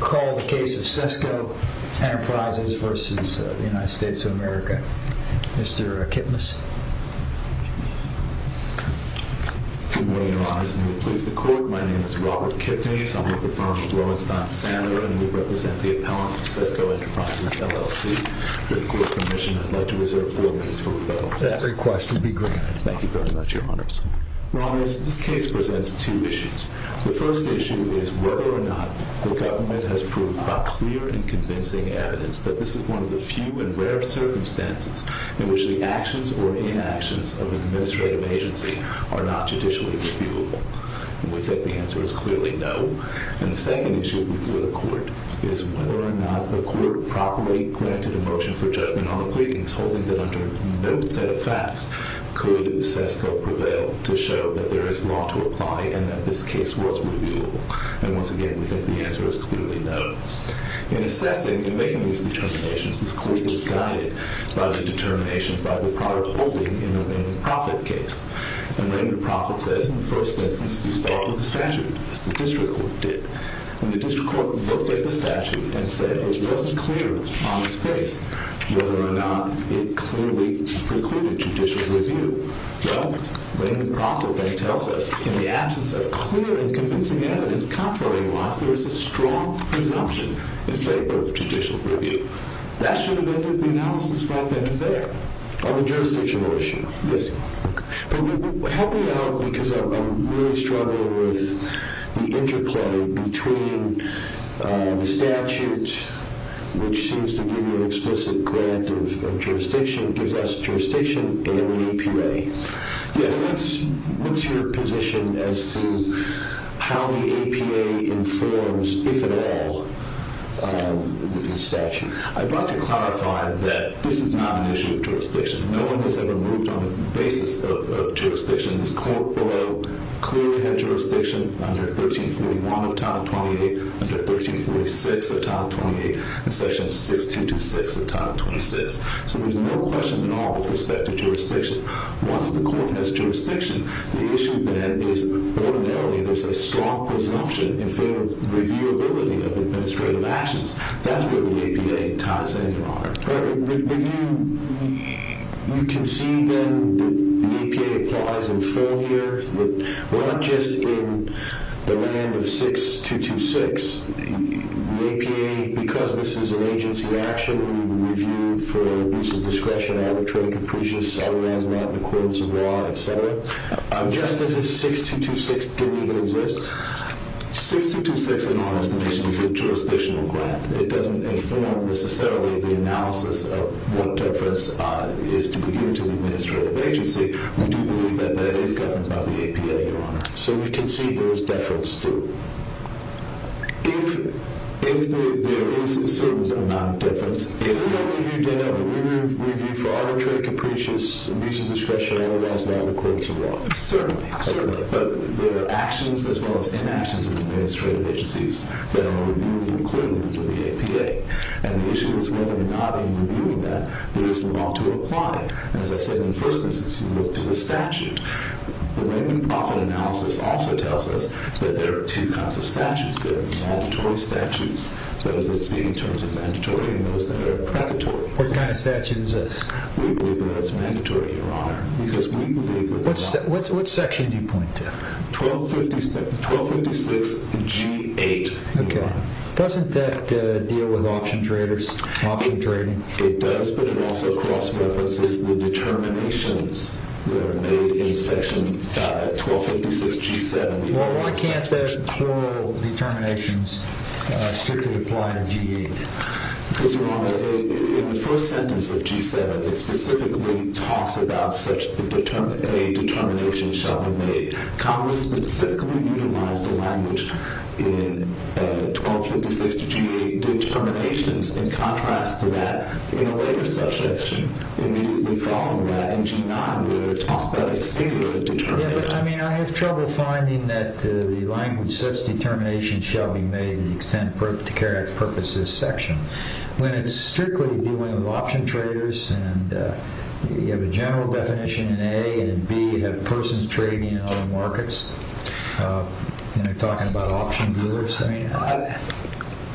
Call the case of SESCO Enterprises versus the United States of America. Mr. Kipnis. Good morning, your honors. May we please the court. My name is Robert Kipnis. I'm with the firm of Lowenstein Sandler, and we represent the appellant of SESCO Enterprisesllc. For the court's permission, I'd like to reserve four minutes for federal justice. That request will be granted. Thank you very much, your honors. Your honors, this case presents two issues. The first issue is whether or not the government has proved a clear and convincing evidence that this is one of the few and rare circumstances in which the actions or inactions of administrative agency are not judicially reviewable. We think the answer is clearly no. And the second issue before the court is whether or not the court properly granted a motion for judgment on the pleadings, holding that under no set of facts could SESCO prevail to show that there is law to apply and that this case was reviewable. And once again, we think the answer is clearly no. In assessing, in making these determinations, this court is guided by the determination by the prior holding in the Raymond Proffitt case. And Raymond Proffitt says, in the first instance, you start with the statute, as the district court did. And the district court looked at the statute and said it wasn't clear on its face whether or not it clearly precluded judicial review. Well, Raymond Proffitt then tells us, in the absence of clear and convincing evidence, contrary to us, there is a strong presumption in favor of judicial review. That should have ended the analysis right then and there on the jurisdictional issue. Yes. But help me out, because I'm really struggling with the interplay between the statute, which seems to give you an explicit grant of jurisdiction, gives us jurisdiction and an APA. Yes. What's your position as to how the APA informs, if at all, the statute? I'd like to clarify that this is not an issue of jurisdiction. No one has ever moved on the basis of jurisdiction. This court below clearly had jurisdiction under 1341 of Title 28, under 1346 of Title 28, and Section 1626 of Title 26. So there's no question at all with respect to jurisdiction. Once the court has jurisdiction, the issue then is ordinarily there's a strong presumption in favor of reviewability of administrative actions. That's where the APA ties in, Your Honor. But you concede then that the APA applies in full here? Well, not just in the realm of 6226. The APA, because this is an agency action, we review for abuse of discretion, arbitrary capricious, otherwise not in accordance with law, et cetera. Just as if 6226 didn't exist. 6226, in our estimation, is a jurisdictional grant. It doesn't inform, necessarily, the analysis of what deference is to be given to an administrative agency. We do believe that that is governed by the APA, Your Honor. So we concede there is deference, too. If there is a certain amount of deference, even though you did have a review for arbitrary capricious abuse of discretion, otherwise not in accordance with law. Certainly. Certainly. But there are actions as well as inactions of administrative agencies that are reviewed in accordance with the APA. And the issue is whether or not, in reviewing that, there is law to apply. And as I said in the first instance, you looked at the statute. The Revenue and Profit Analysis also tells us that there are two kinds of statutes. There are mandatory statutes, those that speak in terms of mandatory, and those that are predatory. What kind of statute is this? We believe that that's mandatory, Your Honor. Because we believe that there are- What section do you point to? 1256 G8. Okay. Doesn't that deal with option trading? It does. But it also cross-references the determinations that are made in section 1256 G7. Well, why can't those plural determinations strictly apply to G8? Because, Your Honor, in the first sentence of G7, it specifically talks about such a determination shall be made. Congress specifically utilized the language in 1256 G8 determinations. In contrast to that, in a later subsection, immediately following that in G9, where it talks about a singular determination. Yeah, but, I mean, I have trouble finding that the language, such determination shall be made to the extent to carry out the purpose of this section. When it's strictly dealing with option traders, and you have a general definition in A, and in B, you have persons trading in other markets, you know, talking about option dealers.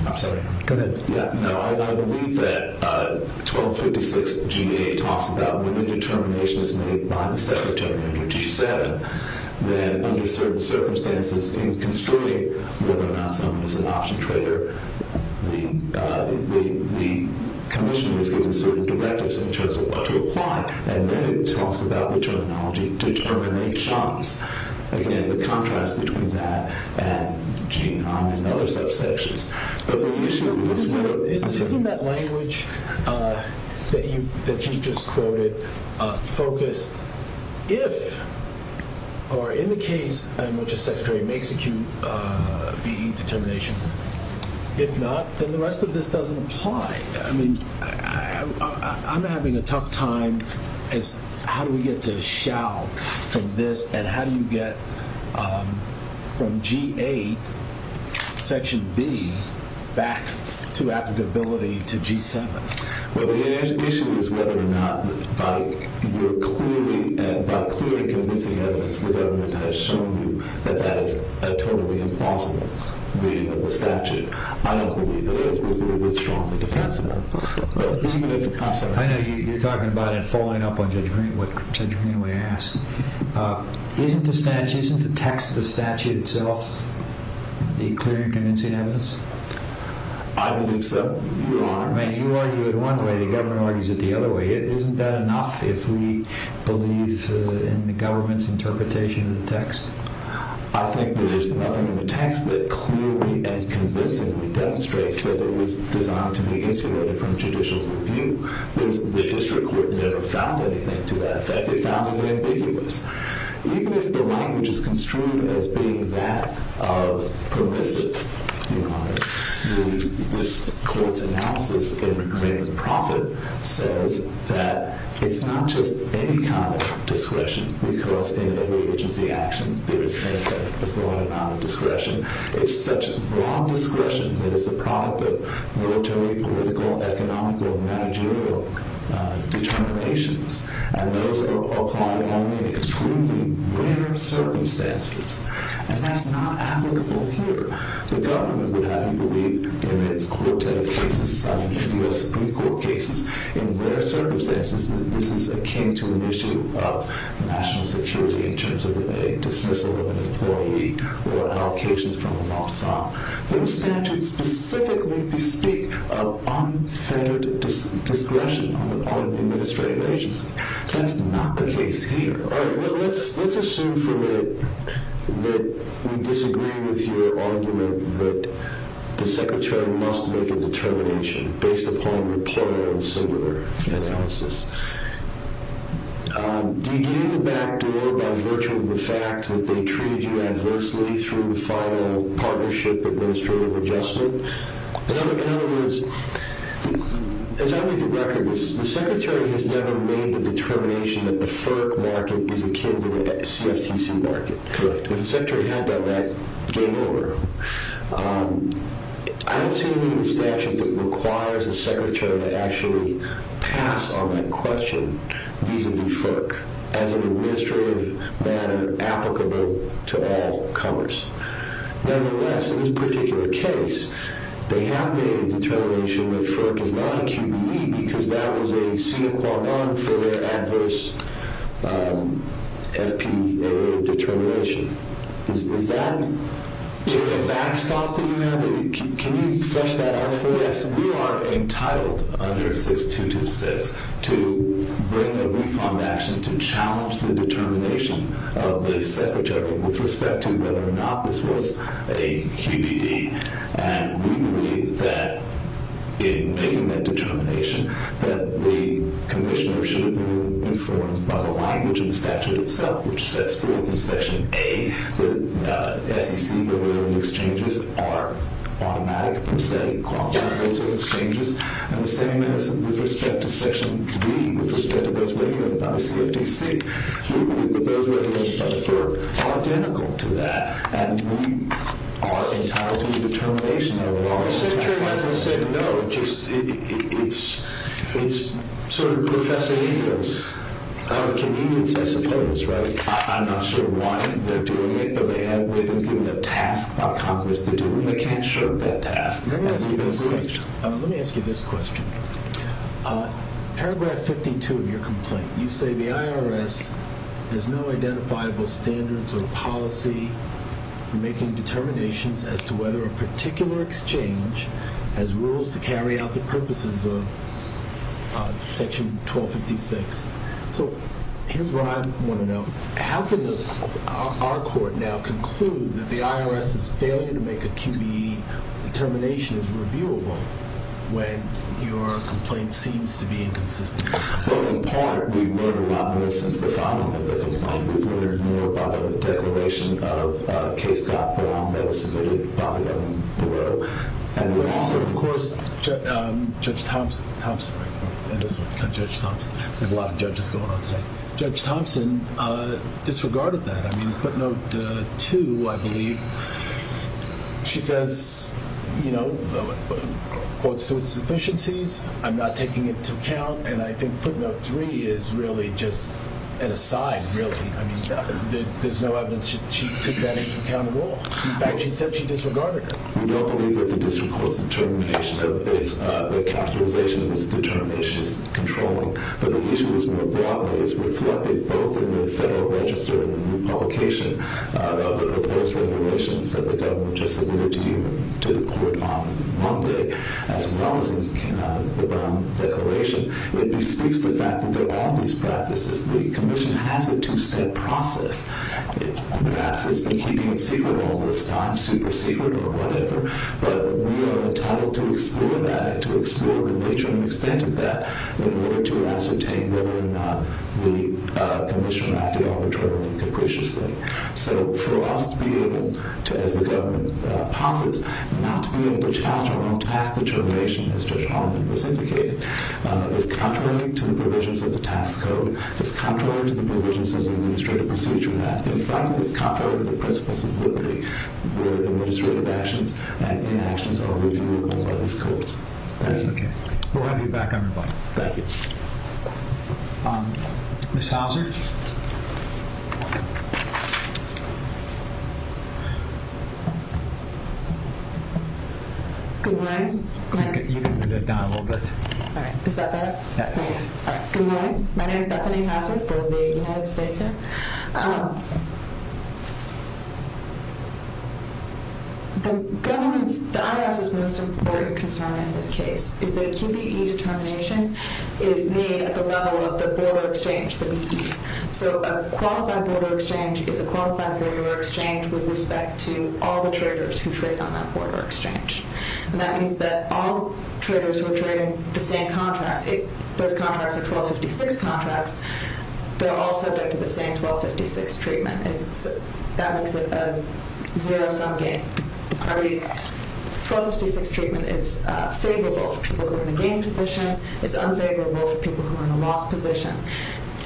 I'm sorry. Go ahead. No, I believe that 1256 G8 talks about when the determination is made by the Secretary under G7, that under certain circumstances in construing whether or not someone is an option trader, the commission is given certain directives in terms of what to apply. And then it talks about the terminology determinations. Again, the contrast between that and G9 and other subsections. But the issue is, isn't that language that you just quoted focused if, or in the case in which a Secretary may execute a VE determination? If not, then the rest of this doesn't apply. I mean, I'm having a tough time as how do we get to shall from this, and how do you get from G8, section B, back to applicability to G7? Well, the issue is whether or not by clearly convincing evidence the government has shown you that that is a totally impossible reading of the statute. I don't believe that it is. It is strongly defensible. I know you're talking about it following up on what Judge Greenway asked. Isn't the text of the statute itself the clear and convincing evidence? I believe so, Your Honor. I mean, you argue it one way, the government argues it the other way. Isn't that enough if we believe in the government's interpretation of the text? I think that there's nothing in the text that clearly and convincingly demonstrates that it was designed to be insulated from judicial review. The district court never found anything to that effect. It found it ambiguous. Even if the language is construed as being that of permissive, Your Honor, this court's analysis in profit says that it's not just any kind of discretion, because in every agency action, there is a broad amount of discretion. It's such broad discretion that is the product of military, political, economical, managerial determinations. And those are applied only in extremely rare circumstances. And that's not applicable here. The government would have you believe in its court cases, the U.S. Supreme Court cases, in rare circumstances that this is akin to an issue of national security in terms of a dismissal of an employee or allocations from a law firm. Those statutes specifically speak of unfair discretion on the part of the administrative agency. That's not the case here. All right. Let's assume for a minute that we disagree with your argument that the secretary must make a determination based upon rapport and similar analysis. Do you get in the back door by virtue of the fact that they treat you adversely through the final partnership administrative adjustment? In other words, as I read the record, the secretary has never made the determination that the FERC market is akin to the CFTC market. Correct. If the secretary had done that, game over. I don't see anything in the statute that requires the secretary to actually pass on that question vis-a-vis FERC as an administrative matter applicable to all comers. Nevertheless, in this particular case, they have made a determination that FERC is not a QBE because that was a sine qua non for their adverse FPA determination. Is that exact thought that you have? Can you flesh that out for us? Yes. We are entitled under 6226 to bring a refund action to challenge the determination of the secretary with respect to whether or not this was a QBE. We believe that in making that determination that the commissioner should be informed by the language in the statute itself, which sets forth in section A that SEC exchanges are automatic, prosthetic, quantitative exchanges, and the same as with respect to section B with respect to those regulated by the CFTC. We believe that those regulated by the FERC are identical to that, and we are entitled to the determination of the law. The secretary hasn't said no. It's sort of Professor Nichols of convenience, I suppose. Let me ask you this question. Paragraph 52 of your complaint, you say the IRS has no identifiable standards or policy for making determinations as to whether a particular exchange has rules to carry out the purposes of section 1256. So here's what I want to know. How can our court now conclude that the IRS's failure to make a QBE determination is reviewable when your complaint seems to be inconsistent? Well, in part, we've learned about this since the founding of the complaint. We've learned more about it in the declaration of a case that was submitted by the Federal Bureau. Of course, Judge Thompson, we have a lot of judges going on today. Judge Thompson disregarded that. I mean, footnote two, I believe, she says, you know, what's the sufficiencies? I'm not taking it into account, and I think footnote three is really just an aside, really. I mean, there's no evidence she took that into account at all. In fact, she said she disregarded it. We don't believe that the district court's determination of its, the capitalization of its determination is controlling, but the issue is more broadly, it's reflected both in the Federal Register and the new publication of the proposed regulations that the government just submitted to you, to the court on Monday, as well as in the declaration. It bespeaks the fact that there are all these practices. The commission has a two-step process. Perhaps it's been keeping it secret all this time, super secret or whatever, but we are entitled to explore that and to explore the nature and extent of that in order to ascertain whether or not the commission acted arbitrarily and capriciously. So for us to be able to, as the government posits, not to be able to challenge our own task determination, as Judge Holland has indicated, is contrary to the provisions of the tax code, is contrary to the provisions of the administrative procedure, and finally, is contrary to the principles of liberty where administrative actions and inactions are reviewable by these courts. Thank you. Okay. We'll have you back on your bike. Thank you. Ms. Houser? Good morning. You can move that down a little bit. Alright. Is that better? Yeah. Good morning. My name is Bethany Houser from the United States here. The IRS's most important concern in this case is that QBE determination is made at the level of the border exchange, the BQE. So a qualified border exchange is a qualified border exchange with respect to all the traders who trade on that border exchange. And that means that all traders who are trading the same contracts, if those contracts are 1256 contracts, they're all subject to the same 1256 treatment. That makes it a zero-sum game. 1256 treatment is favorable for people who are in a gain position. It's unfavorable for people who are in a loss position.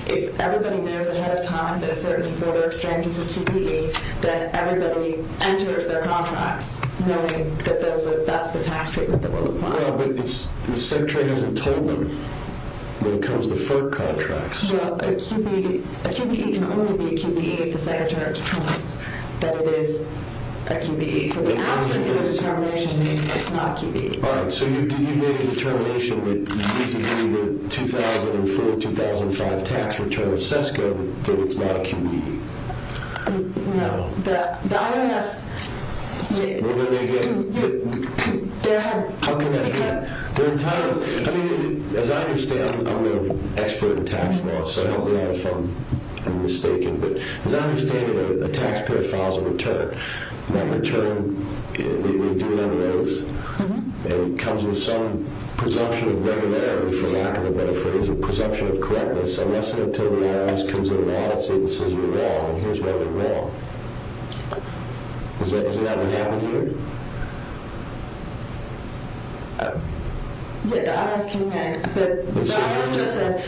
If everybody knows ahead of time that a certain border exchange is a QBE, then everybody enters their contracts knowing that that's the tax treatment that will apply. Well, but the Secretary hasn't told them when it comes to FERC contracts. Well, a QBE can only be a QBE if the Secretary determines that it is a QBE. So the absence of a determination means it's not a QBE. Alright. So you made a determination that using the 2004-2005 tax return of SESCO that it's not a QBE. No. The IRS... Well, then again... How can that be? I mean, as I understand, I'm an expert in tax law, so I hope I'm not mistaken, but as I understand it, a taxpayer files a return. That return, we do it on an oath, and it comes with some presumption of regularity, for lack of a better phrase, a presumption of correctness, unless and until the IRS comes into the office and says you're wrong, and here's why you're wrong. Isn't that what happened here? Uh... Yeah, the IRS came in, but the IRS just said,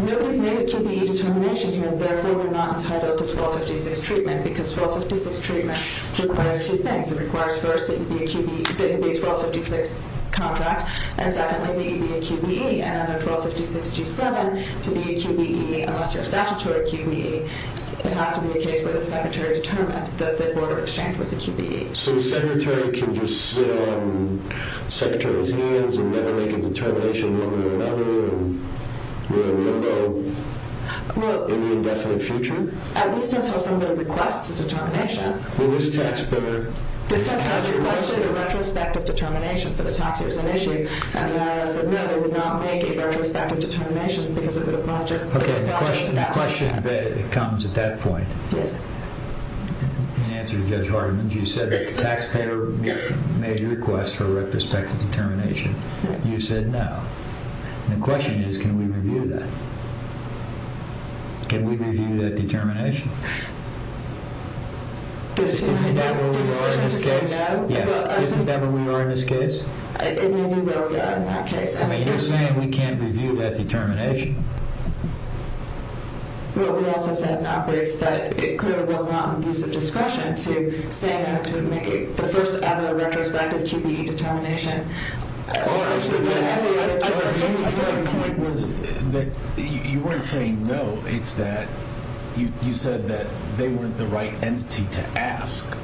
nobody's made a QBE determination here, therefore we're not entitled to 1256 treatment, because 1256 treatment requires two things. It requires, first, that you be a QBE, that you be a 1256 contract, and secondly, that you be a QBE, and under 1256-G7, to be a QBE, unless you're a statutory QBE, it has to be a case where the Secretary determined that the border exchange was a QBE. So the Secretary can just sit on the Secretary's hands and never make a determination one way or another, and you're a member, in the indefinite future? Well, at least until somebody requests a determination. Well, this taxpayer... This taxpayer has requested a retrospective determination for the tax years on issue, and the IRS said no, they would not make a retrospective determination because it would have just... Okay, the question comes at that point. Yes. In answer to Judge Hartman's, you said that the taxpayer made a request for a retrospective determination. You said no. The question is, can we review that? Can we review that determination? Isn't that where we are in this case? Yes, isn't that where we are in this case? It may be where we are in that case. I mean, you're saying we can't review that determination? Well, we also said in our brief that it clearly was not in the use of discretion to say that to make the first ever retrospective QBE determination. My point was... You weren't saying no. It's that you said that they weren't the right entity to ask.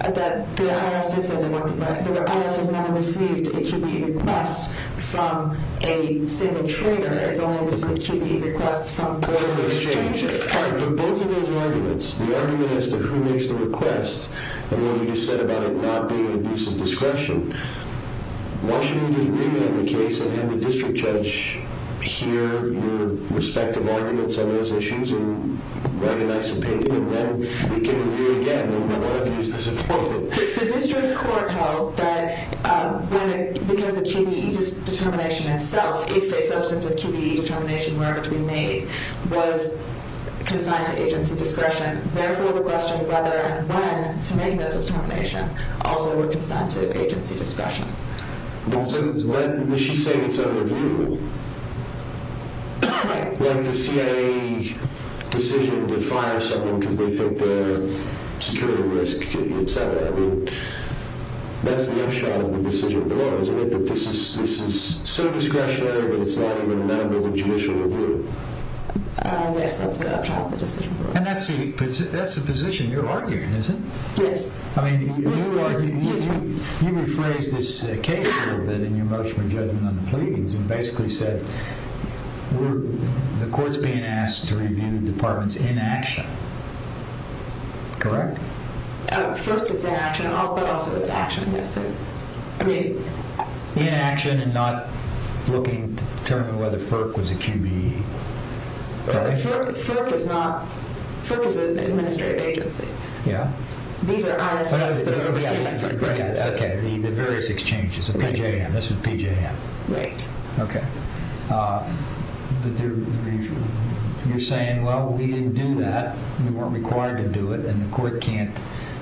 That the IRS did say they weren't the right... The IRS has never received a QBE request from a single trader. It's only received QBE requests from both of the exchanges. But both of those arguments, the argument as to who makes the request and what you just said about it not being in use of discretion, why shouldn't we just review the case and have the district judge hear your respective arguments on those issues and write a nice opinion and then we can review again and none of you is disappointed? The district court held that because the QBE determination itself if a substantive QBE determination were to be made was consigned to agency discretion therefore the question whether and when to make that determination also were consigned to agency discretion. Does she say it's under review? Like the CIA decision to fire someone because they think their security risk etc. That's the upshot of the decision below, isn't it? That this is so discretionary but it's not even a matter of judicial review. Yes, that's the upshot of the decision below. And that's the position you're arguing, is it? Yes. You rephrased this case a little bit in your motion for judgment on the pleadings and basically said the court's being asked to review the department's inaction. Correct? First it's inaction but also it's action, yes sir. Inaction and not looking to determine whether FERC was a QBE. FERC is not FERC is an administrative agency. These are ISOs that are overseen by FERC. The various exchanges. This is PJM. You're saying well we didn't do that we weren't required to do it and the court can't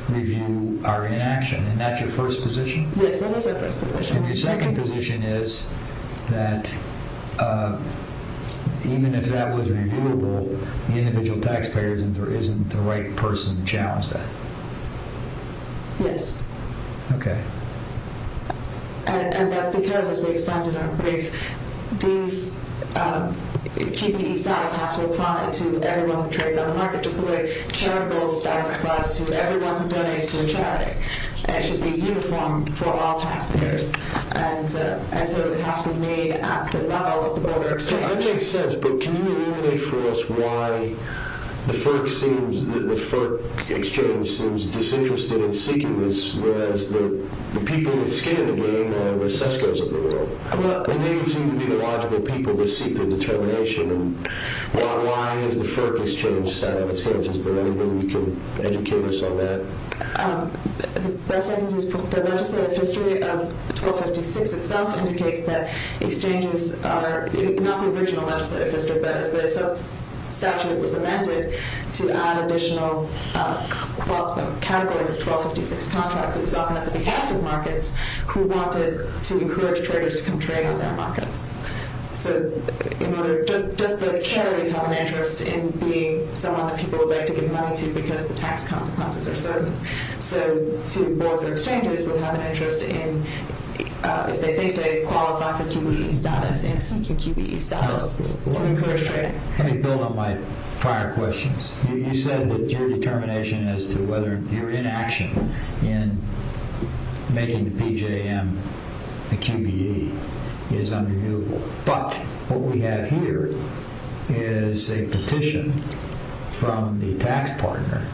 review our inaction and that's your first position? Yes, that is our first position. And your second position is that even if that was reviewable the individual taxpayers isn't the right person to challenge that? Yes. Okay. And that's because as we expanded our brief this QBE status has to apply to everyone who trades on the market just the way a charity bill's status applies to everyone who donates to a charity and it should be uniform for all taxpayers and so it has to be made at the level of the border exchange. That makes sense but can you eliminate for us why the FERC exchange seems disinterested in seeking this whereas the people that skin in the game are the sesco's of the world and they seem to be the logical people to seek their determination and why is the FERC exchange side of its hands? Is there anything you can educate us on that? The legislative history of 1256 itself indicates that exchanges are not the original legislative history but as the statute was amended to add additional categories of 1256 contracts it was often at the behest of markets who wanted to encourage traders to come trade on their markets so does the charities have an interest in being someone that people would like to give money to because the tax consequences are certain so to boards or exchanges would have an interest in if they think they qualify for QBE status and seeking QBE status to encourage trading. Let me build on my prior questions you said that your determination as to whether you're in action in making the PJM the QBE is unrenewable but what we have here is a petition from the tax partner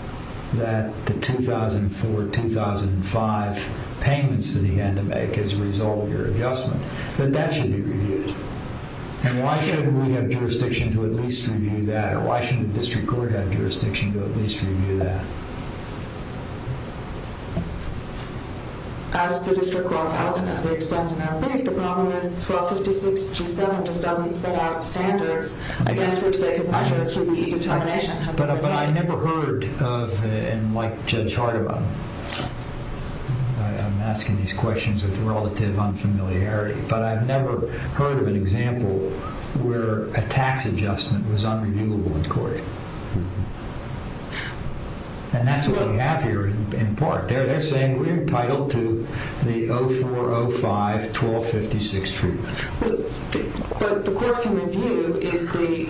that the 2004-2005 payments that he had to make as a result of your adjustment that that should be reviewed and why shouldn't we have jurisdiction to at least review that or why shouldn't the district court have jurisdiction to at least review that? As the district court hasn't as we explained in our brief the problem is 1256-G7 just doesn't set out standards against which they could measure QBE determination but I never heard of and like Judge Hardiman I'm asking these questions with relative unfamiliarity but I've never heard of an example where a tax adjustment was unreviewable in court and that's what we have here in part they're saying we're entitled to the 2004-2005 1256 treatment but the courts can review is the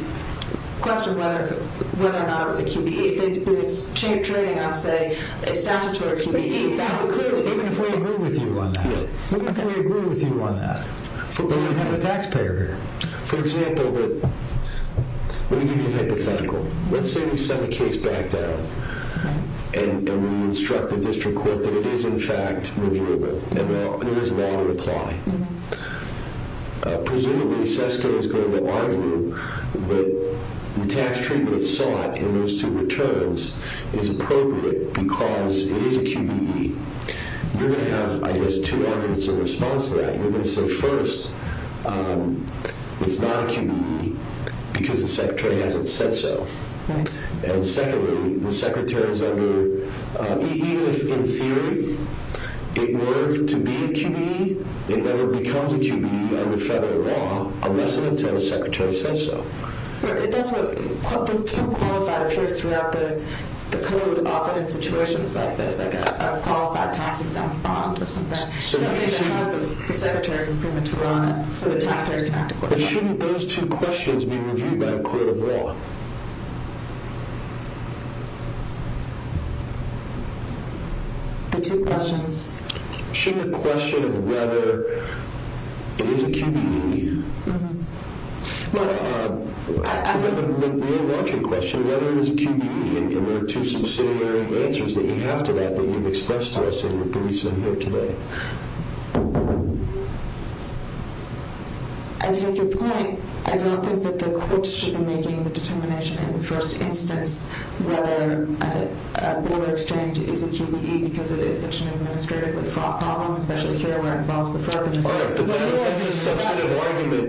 question whether or not it was a QBE if it's trading on say a statutory QBE even if we agree with you on that even if we agree with you on that but we have a taxpayer here for example let me give you a hypothetical let's say we set a case back down and we instruct the district court that it is in fact reviewable and there is a lot of reply presumably SESCO is going to argue that the tax treatment sought in those two returns is appropriate because it is a QBE you're going to have I guess two arguments in response to that you're going to say first it's not a QBE because the secretary hasn't said so and secondly the secretary is under even if in theory it were to be a QBE it never becomes a QBE under federal law unless the secretary says so that's what the term qualified appears throughout the code often in situations like this like a qualified tax exempt bond something that has the secretary's imprimatur on it shouldn't those two questions be reviewed by a court of law the two questions shouldn't the question of whether it is a QBE we don't want your question whether it is a QBE and there are two subsidiary answers that you have to that that you've expressed to us here today I take your point I don't think that the courts should be making the determination in the first instance whether a border exchange is a QBE because it is such an administrative problem especially here where it involves the FERC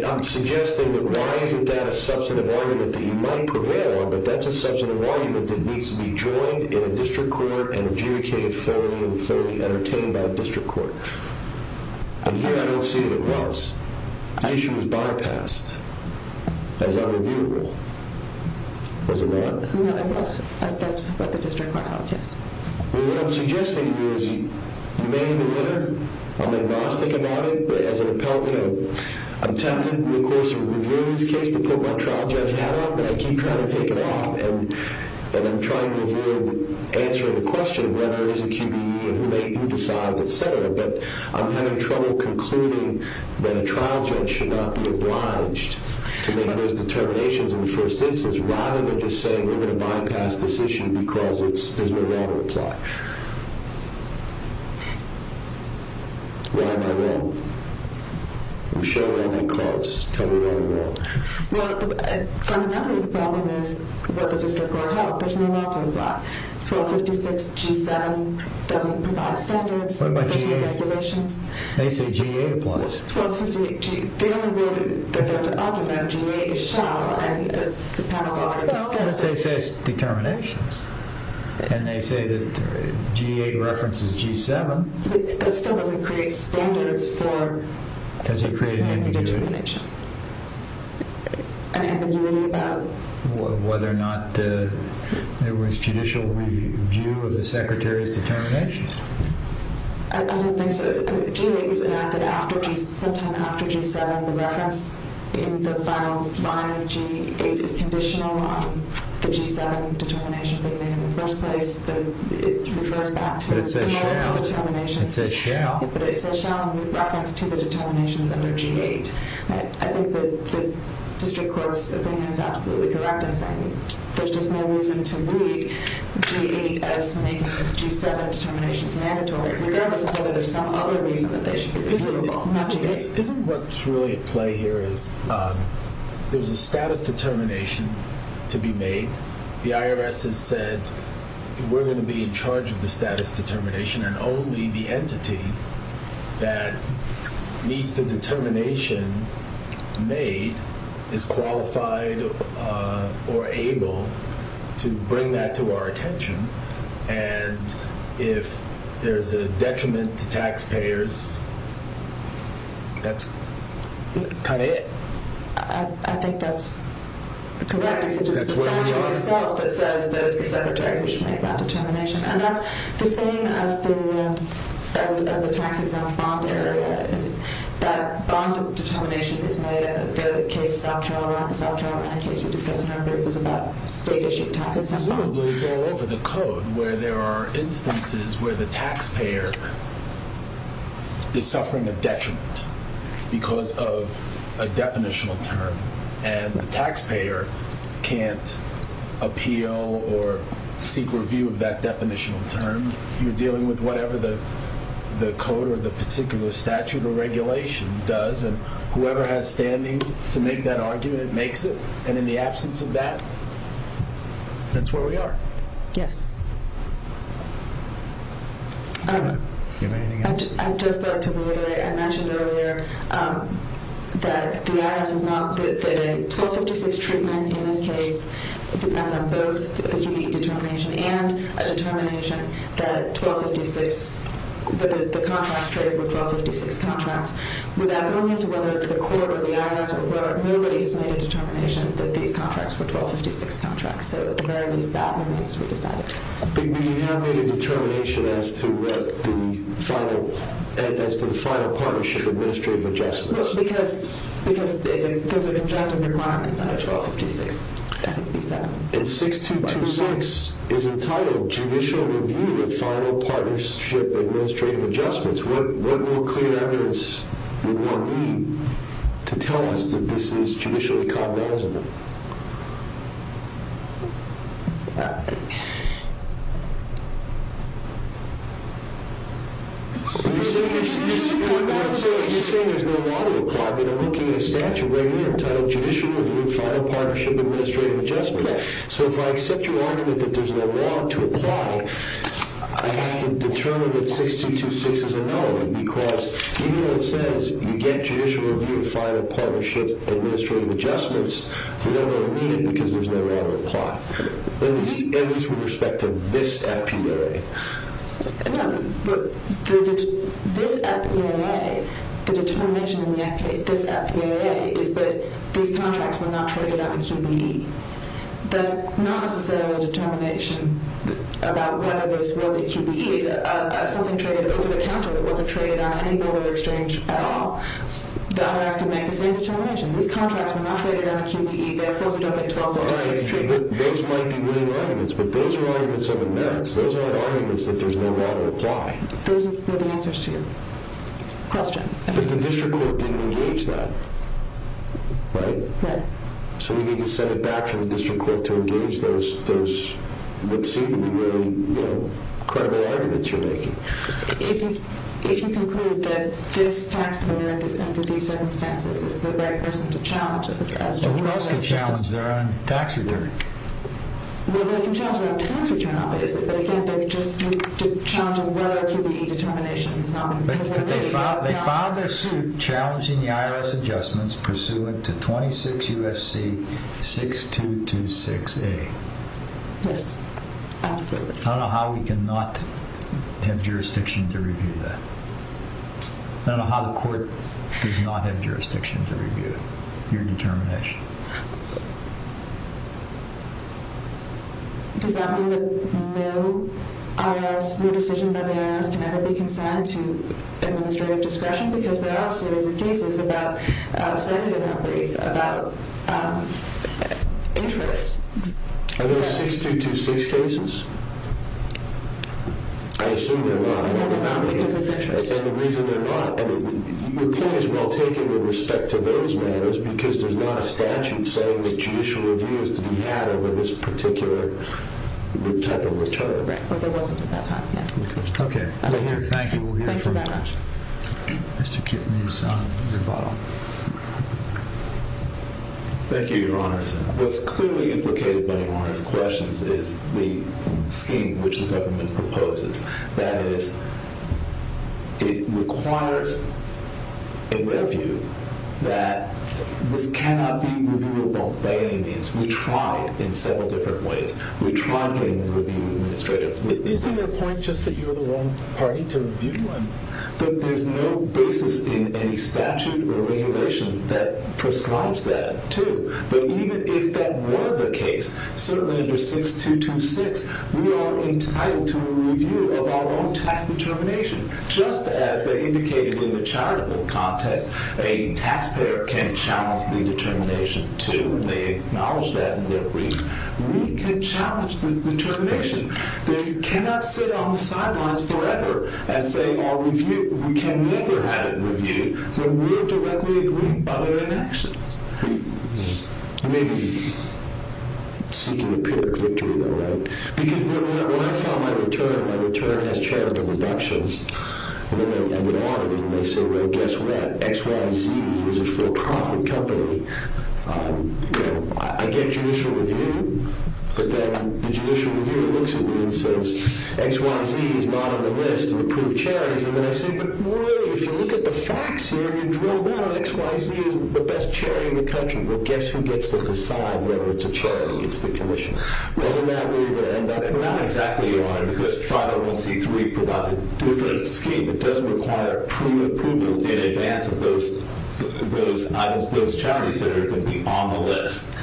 I'm suggesting that why isn't that a substantive argument that you might prevail on but that's a substantive argument that needs to be joined in a district court and adjudicated fully and fully entertained by a district court and here I don't see that it was the issue was bypassed as unreviewable was it not? no it wasn't, that's what the district court held, yes what I'm suggesting to you is you may have a winner, I'm agnostic about it but as an appellate I'm tempted to of course review this case to put my trial judge hat on but I keep trying to take it off and I'm trying to review and answer the question whether it is a QBE and who decides etc but I'm having trouble concluding that a trial judge should not be obliged to make those determinations in the first instance rather than just saying we're going to bypass this issue because there's no law to apply why am I wrong? Michelle why am I caught? tell me why am I wrong fundamentally the problem is what the district court held, there's no law to apply 1256 G7 doesn't provide standards what about G8 regulations they say G8 applies the only rule they're there to argue about G8 is shall as the panel has already discussed they say it's determinations and they say that G8 references G7 that still doesn't create standards for an ambiguity an ambiguity about whether or not there was judicial review of the secretaries determinations I don't think so sometime after G7 the reference in the final line of G8 is conditional on the G7 determination being made in the first place it refers back to the determinations it says shall reference to the determinations under G8 I think the district court's opinion is absolutely correct in saying there's just no reason to read G8 as making G7 determinations mandatory regardless of whether there's some other reason that they should be reasonable isn't what's really at play here is there's a status determination to be made the IRS has said we're going to be in charge of the entity that needs the determination made is qualified or able to bring that to our attention and if there's a detriment to taxpayers that's kind of it I think that's correct it's the statute itself that says that it's the secretary who should make that determination and that's the same as the tax exempt bond area that bond determination is made the case, the South Carolina case we discussed in our brief is about state issued tax exempt bonds it's all over the code where there are instances where the taxpayer is suffering a detriment because of a definitional term and the taxpayer can't appeal or seek review of that definitional term, you're dealing with whatever the code or the particular statute or regulation does and whoever has standing to make that argument makes it and in the absence of that that's where we are yes do you have anything else? I'd just like to I mentioned earlier that the IRS is not the 1256 treatment in this case, it depends on both the unique determination and a determination that 1256 the contracts were 1256 contracts without going into whether it's the court or the IRS or whoever, nobody has made a determination that these contracts were 1256 contracts so at the very least that remains to be decided but you have made a determination as to the final partnership administrative adjustments because there's a number of objective requirements under 1256 I think you said 6226 is entitled judicial review of final partnership administrative adjustments what more clear evidence would one need to tell us that this is judicially compensable you're saying there's no law to apply I mean I'm looking at a statute right here entitled judicial review of final partnership administrative adjustments so if I accept your argument that there's no law to apply I have to determine that 6226 is a no because even though it says you get judicial review of final partnership administrative adjustments you don't really need it because there's no law to apply at least with respect to this FPRA this FPRA the determination in this FPRA is that these contracts were not traded on a QBE that's not necessarily a determination about whether this was a QBE it's something traded over the counter that wasn't traded on any border exchange at all the IRS can make the same determination these contracts were not traded on a QBE therefore you don't get 1256 those might be winning arguments but those are arguments of inerrance those aren't arguments that there's no law to apply those were the answers to your question but the district court didn't engage that right? so we need to send it back to the district court to engage those what seem to be really credible arguments you're making if you conclude that this tax payment under these circumstances is the right person to challenge who else can challenge their own tax return? well they can challenge their own tax return they can't just challenge a regular QBE determination they filed their suit challenging the IRS adjustments pursuant to 26 USC 6226A yes absolutely I don't know how we can not have jurisdiction to review that I don't know how the court does not have jurisdiction to review your determination okay does that mean that no IRS, no decision by the IRS can ever be consigned to administrative discretion because there are serious cases about about interest are those 6226 cases? I assume they're not because it's interest your point is well taken with respect to those matters because there's not a statute saying that judicial review is to be had over this particular type of return there wasn't at that time thank you Mr. Kiffmeyer your bottle thank you your honor what's clearly implicated by your honor's questions is the scheme which the government proposes that is it requires in their view that this cannot be reviewable by any means we tried in several different ways we tried getting the review administrative isn't the point just that you're the wrong party to review them? but there's no basis in any statute or regulation that prescribes that too but even if that were the case certainly under 6226 we are entitled to a review of our own tax determination just as they indicated in the charitable context a taxpayer can challenge the determination too and they acknowledge that in their briefs we can challenge this determination they cannot sit on the sidelines forever and say our review we can never have it reviewed when we're directly agreeing by their actions maybe seeking a pyrrhic victory though right because when I file my return my return has charitable deductions and they say well guess what XYZ is a for profit company I get judicial review but then the judicial reviewer looks at me and says XYZ is not on the list of approved charities and then I say but really if you look at the facts here and you drill down XYZ is the best charity in the country well guess who gets to decide whether it's a charity it's the commission wasn't that where you would end up not exactly your honor because 501c3 provides a different scheme it does require pre-approval in advance of those items, those charities that are going to be on the list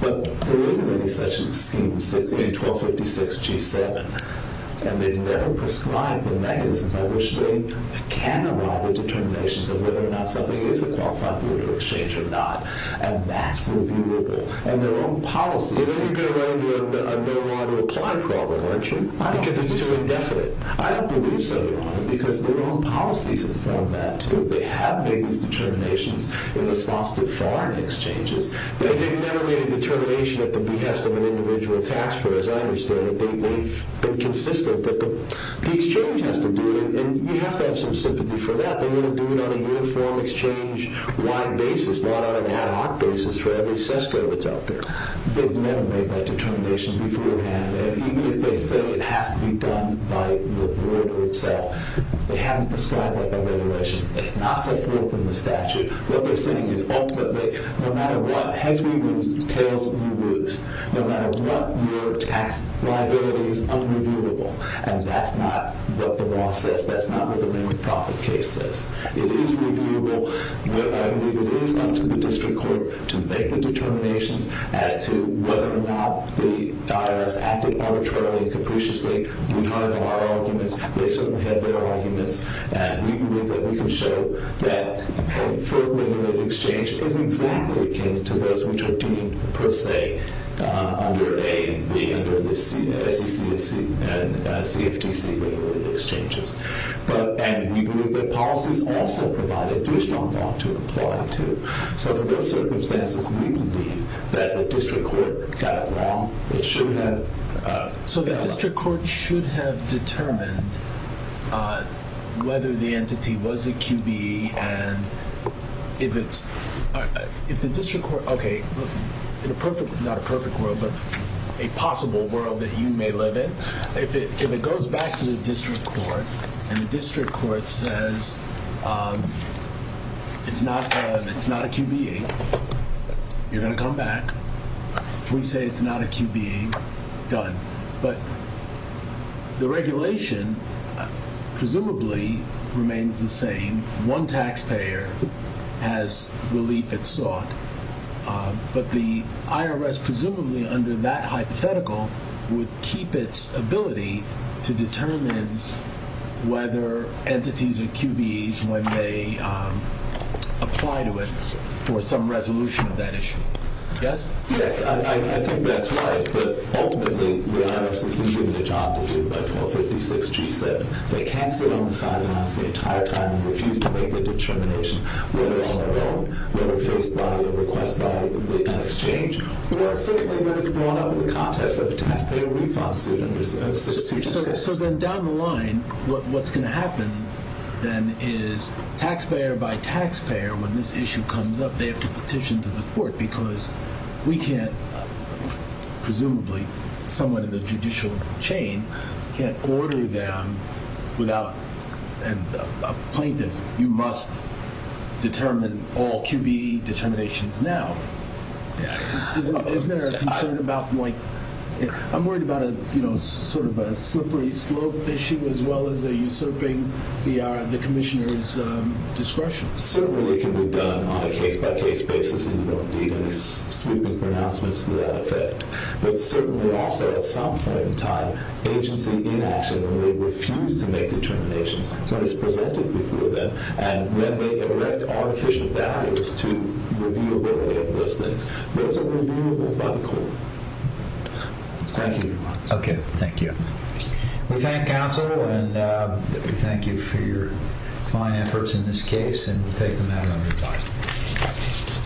but there isn't any such scheme in 1256g7 and they've never prescribed the mechanism by which they can arrive at determinations of whether or not something is a qualified peer-to-peer exchange or not and that's reviewable and their own policies then you're going to run into a no-one reply problem aren't you? I don't believe so your honor because their own policies inform that they have made these determinations in response to foreign exchanges they've never made a determination at the behest of an individual taxpayer as I understand it, they've been consistent that the exchange has to do it and you have to have some sympathy for that, they want to do it on a uniform exchange wide basis, not on an exchange out there they've never made that determination beforehand and even if they say it has to be done by the board or itself they haven't prescribed that by regulation it's not set forth in the statute what they're saying is ultimately no matter what, heads we lose, tails we lose no matter what your tax liability is unreviewable and that's not what the law says, that's not what the limited profit case says, it is reviewable but I believe it is up to the institutions as to whether or not the IRS acted arbitrarily and capriciously, we have our arguments, they certainly have their arguments and we believe that we can show that a fair regulated exchange is exactly akin to those which are deemed per se under A and B under the SEC and CFTC regulated exchanges and we believe that policies also provide additional law to apply to, so if there were circumstances, we believe that the district court got it wrong it should have so the district court should have determined whether the entity was a QBE and if it's, if the district court okay, in a perfect not a perfect world, but a possible world that you may live in if it goes back to the district court and the district court says it's not a QBE you're going to come back if we say it's not a QBE done, but the regulation presumably remains the same, one taxpayer has relief it sought but the IRS presumably under that hypothetical would keep its ability to determine whether entities are QBEs when they apply to it for some resolution of that issue yes? I think that's right, but ultimately the IRS has been given a job to do by 1256G7 they can't sit on the sidelines the entire time and refuse to make a determination whether on their own, whether faced by a request by an exchange certainly when it's brought up in the context of the taxpayer refund suit so then down the line what's going to happen then is taxpayer by taxpayer when this issue comes up they have to petition to the court because we can't presumably someone in the judicial chain can't order them without a plaintiff you must determine all QBE determinations now isn't there a concern about I'm worried about sort of a slippery slope issue as well as a usurping the commissioners discretion certainly can be done on a case by case basis sweeping pronouncements to that effect but certainly also at some point in time agency inaction when they refuse to make determinations when it's presented before them and when they erect artificial barriers to reviewability of those things those are reviewable by the court thank you okay, thank you we thank counsel and we thank you for your fine efforts in this case and we take them out of our department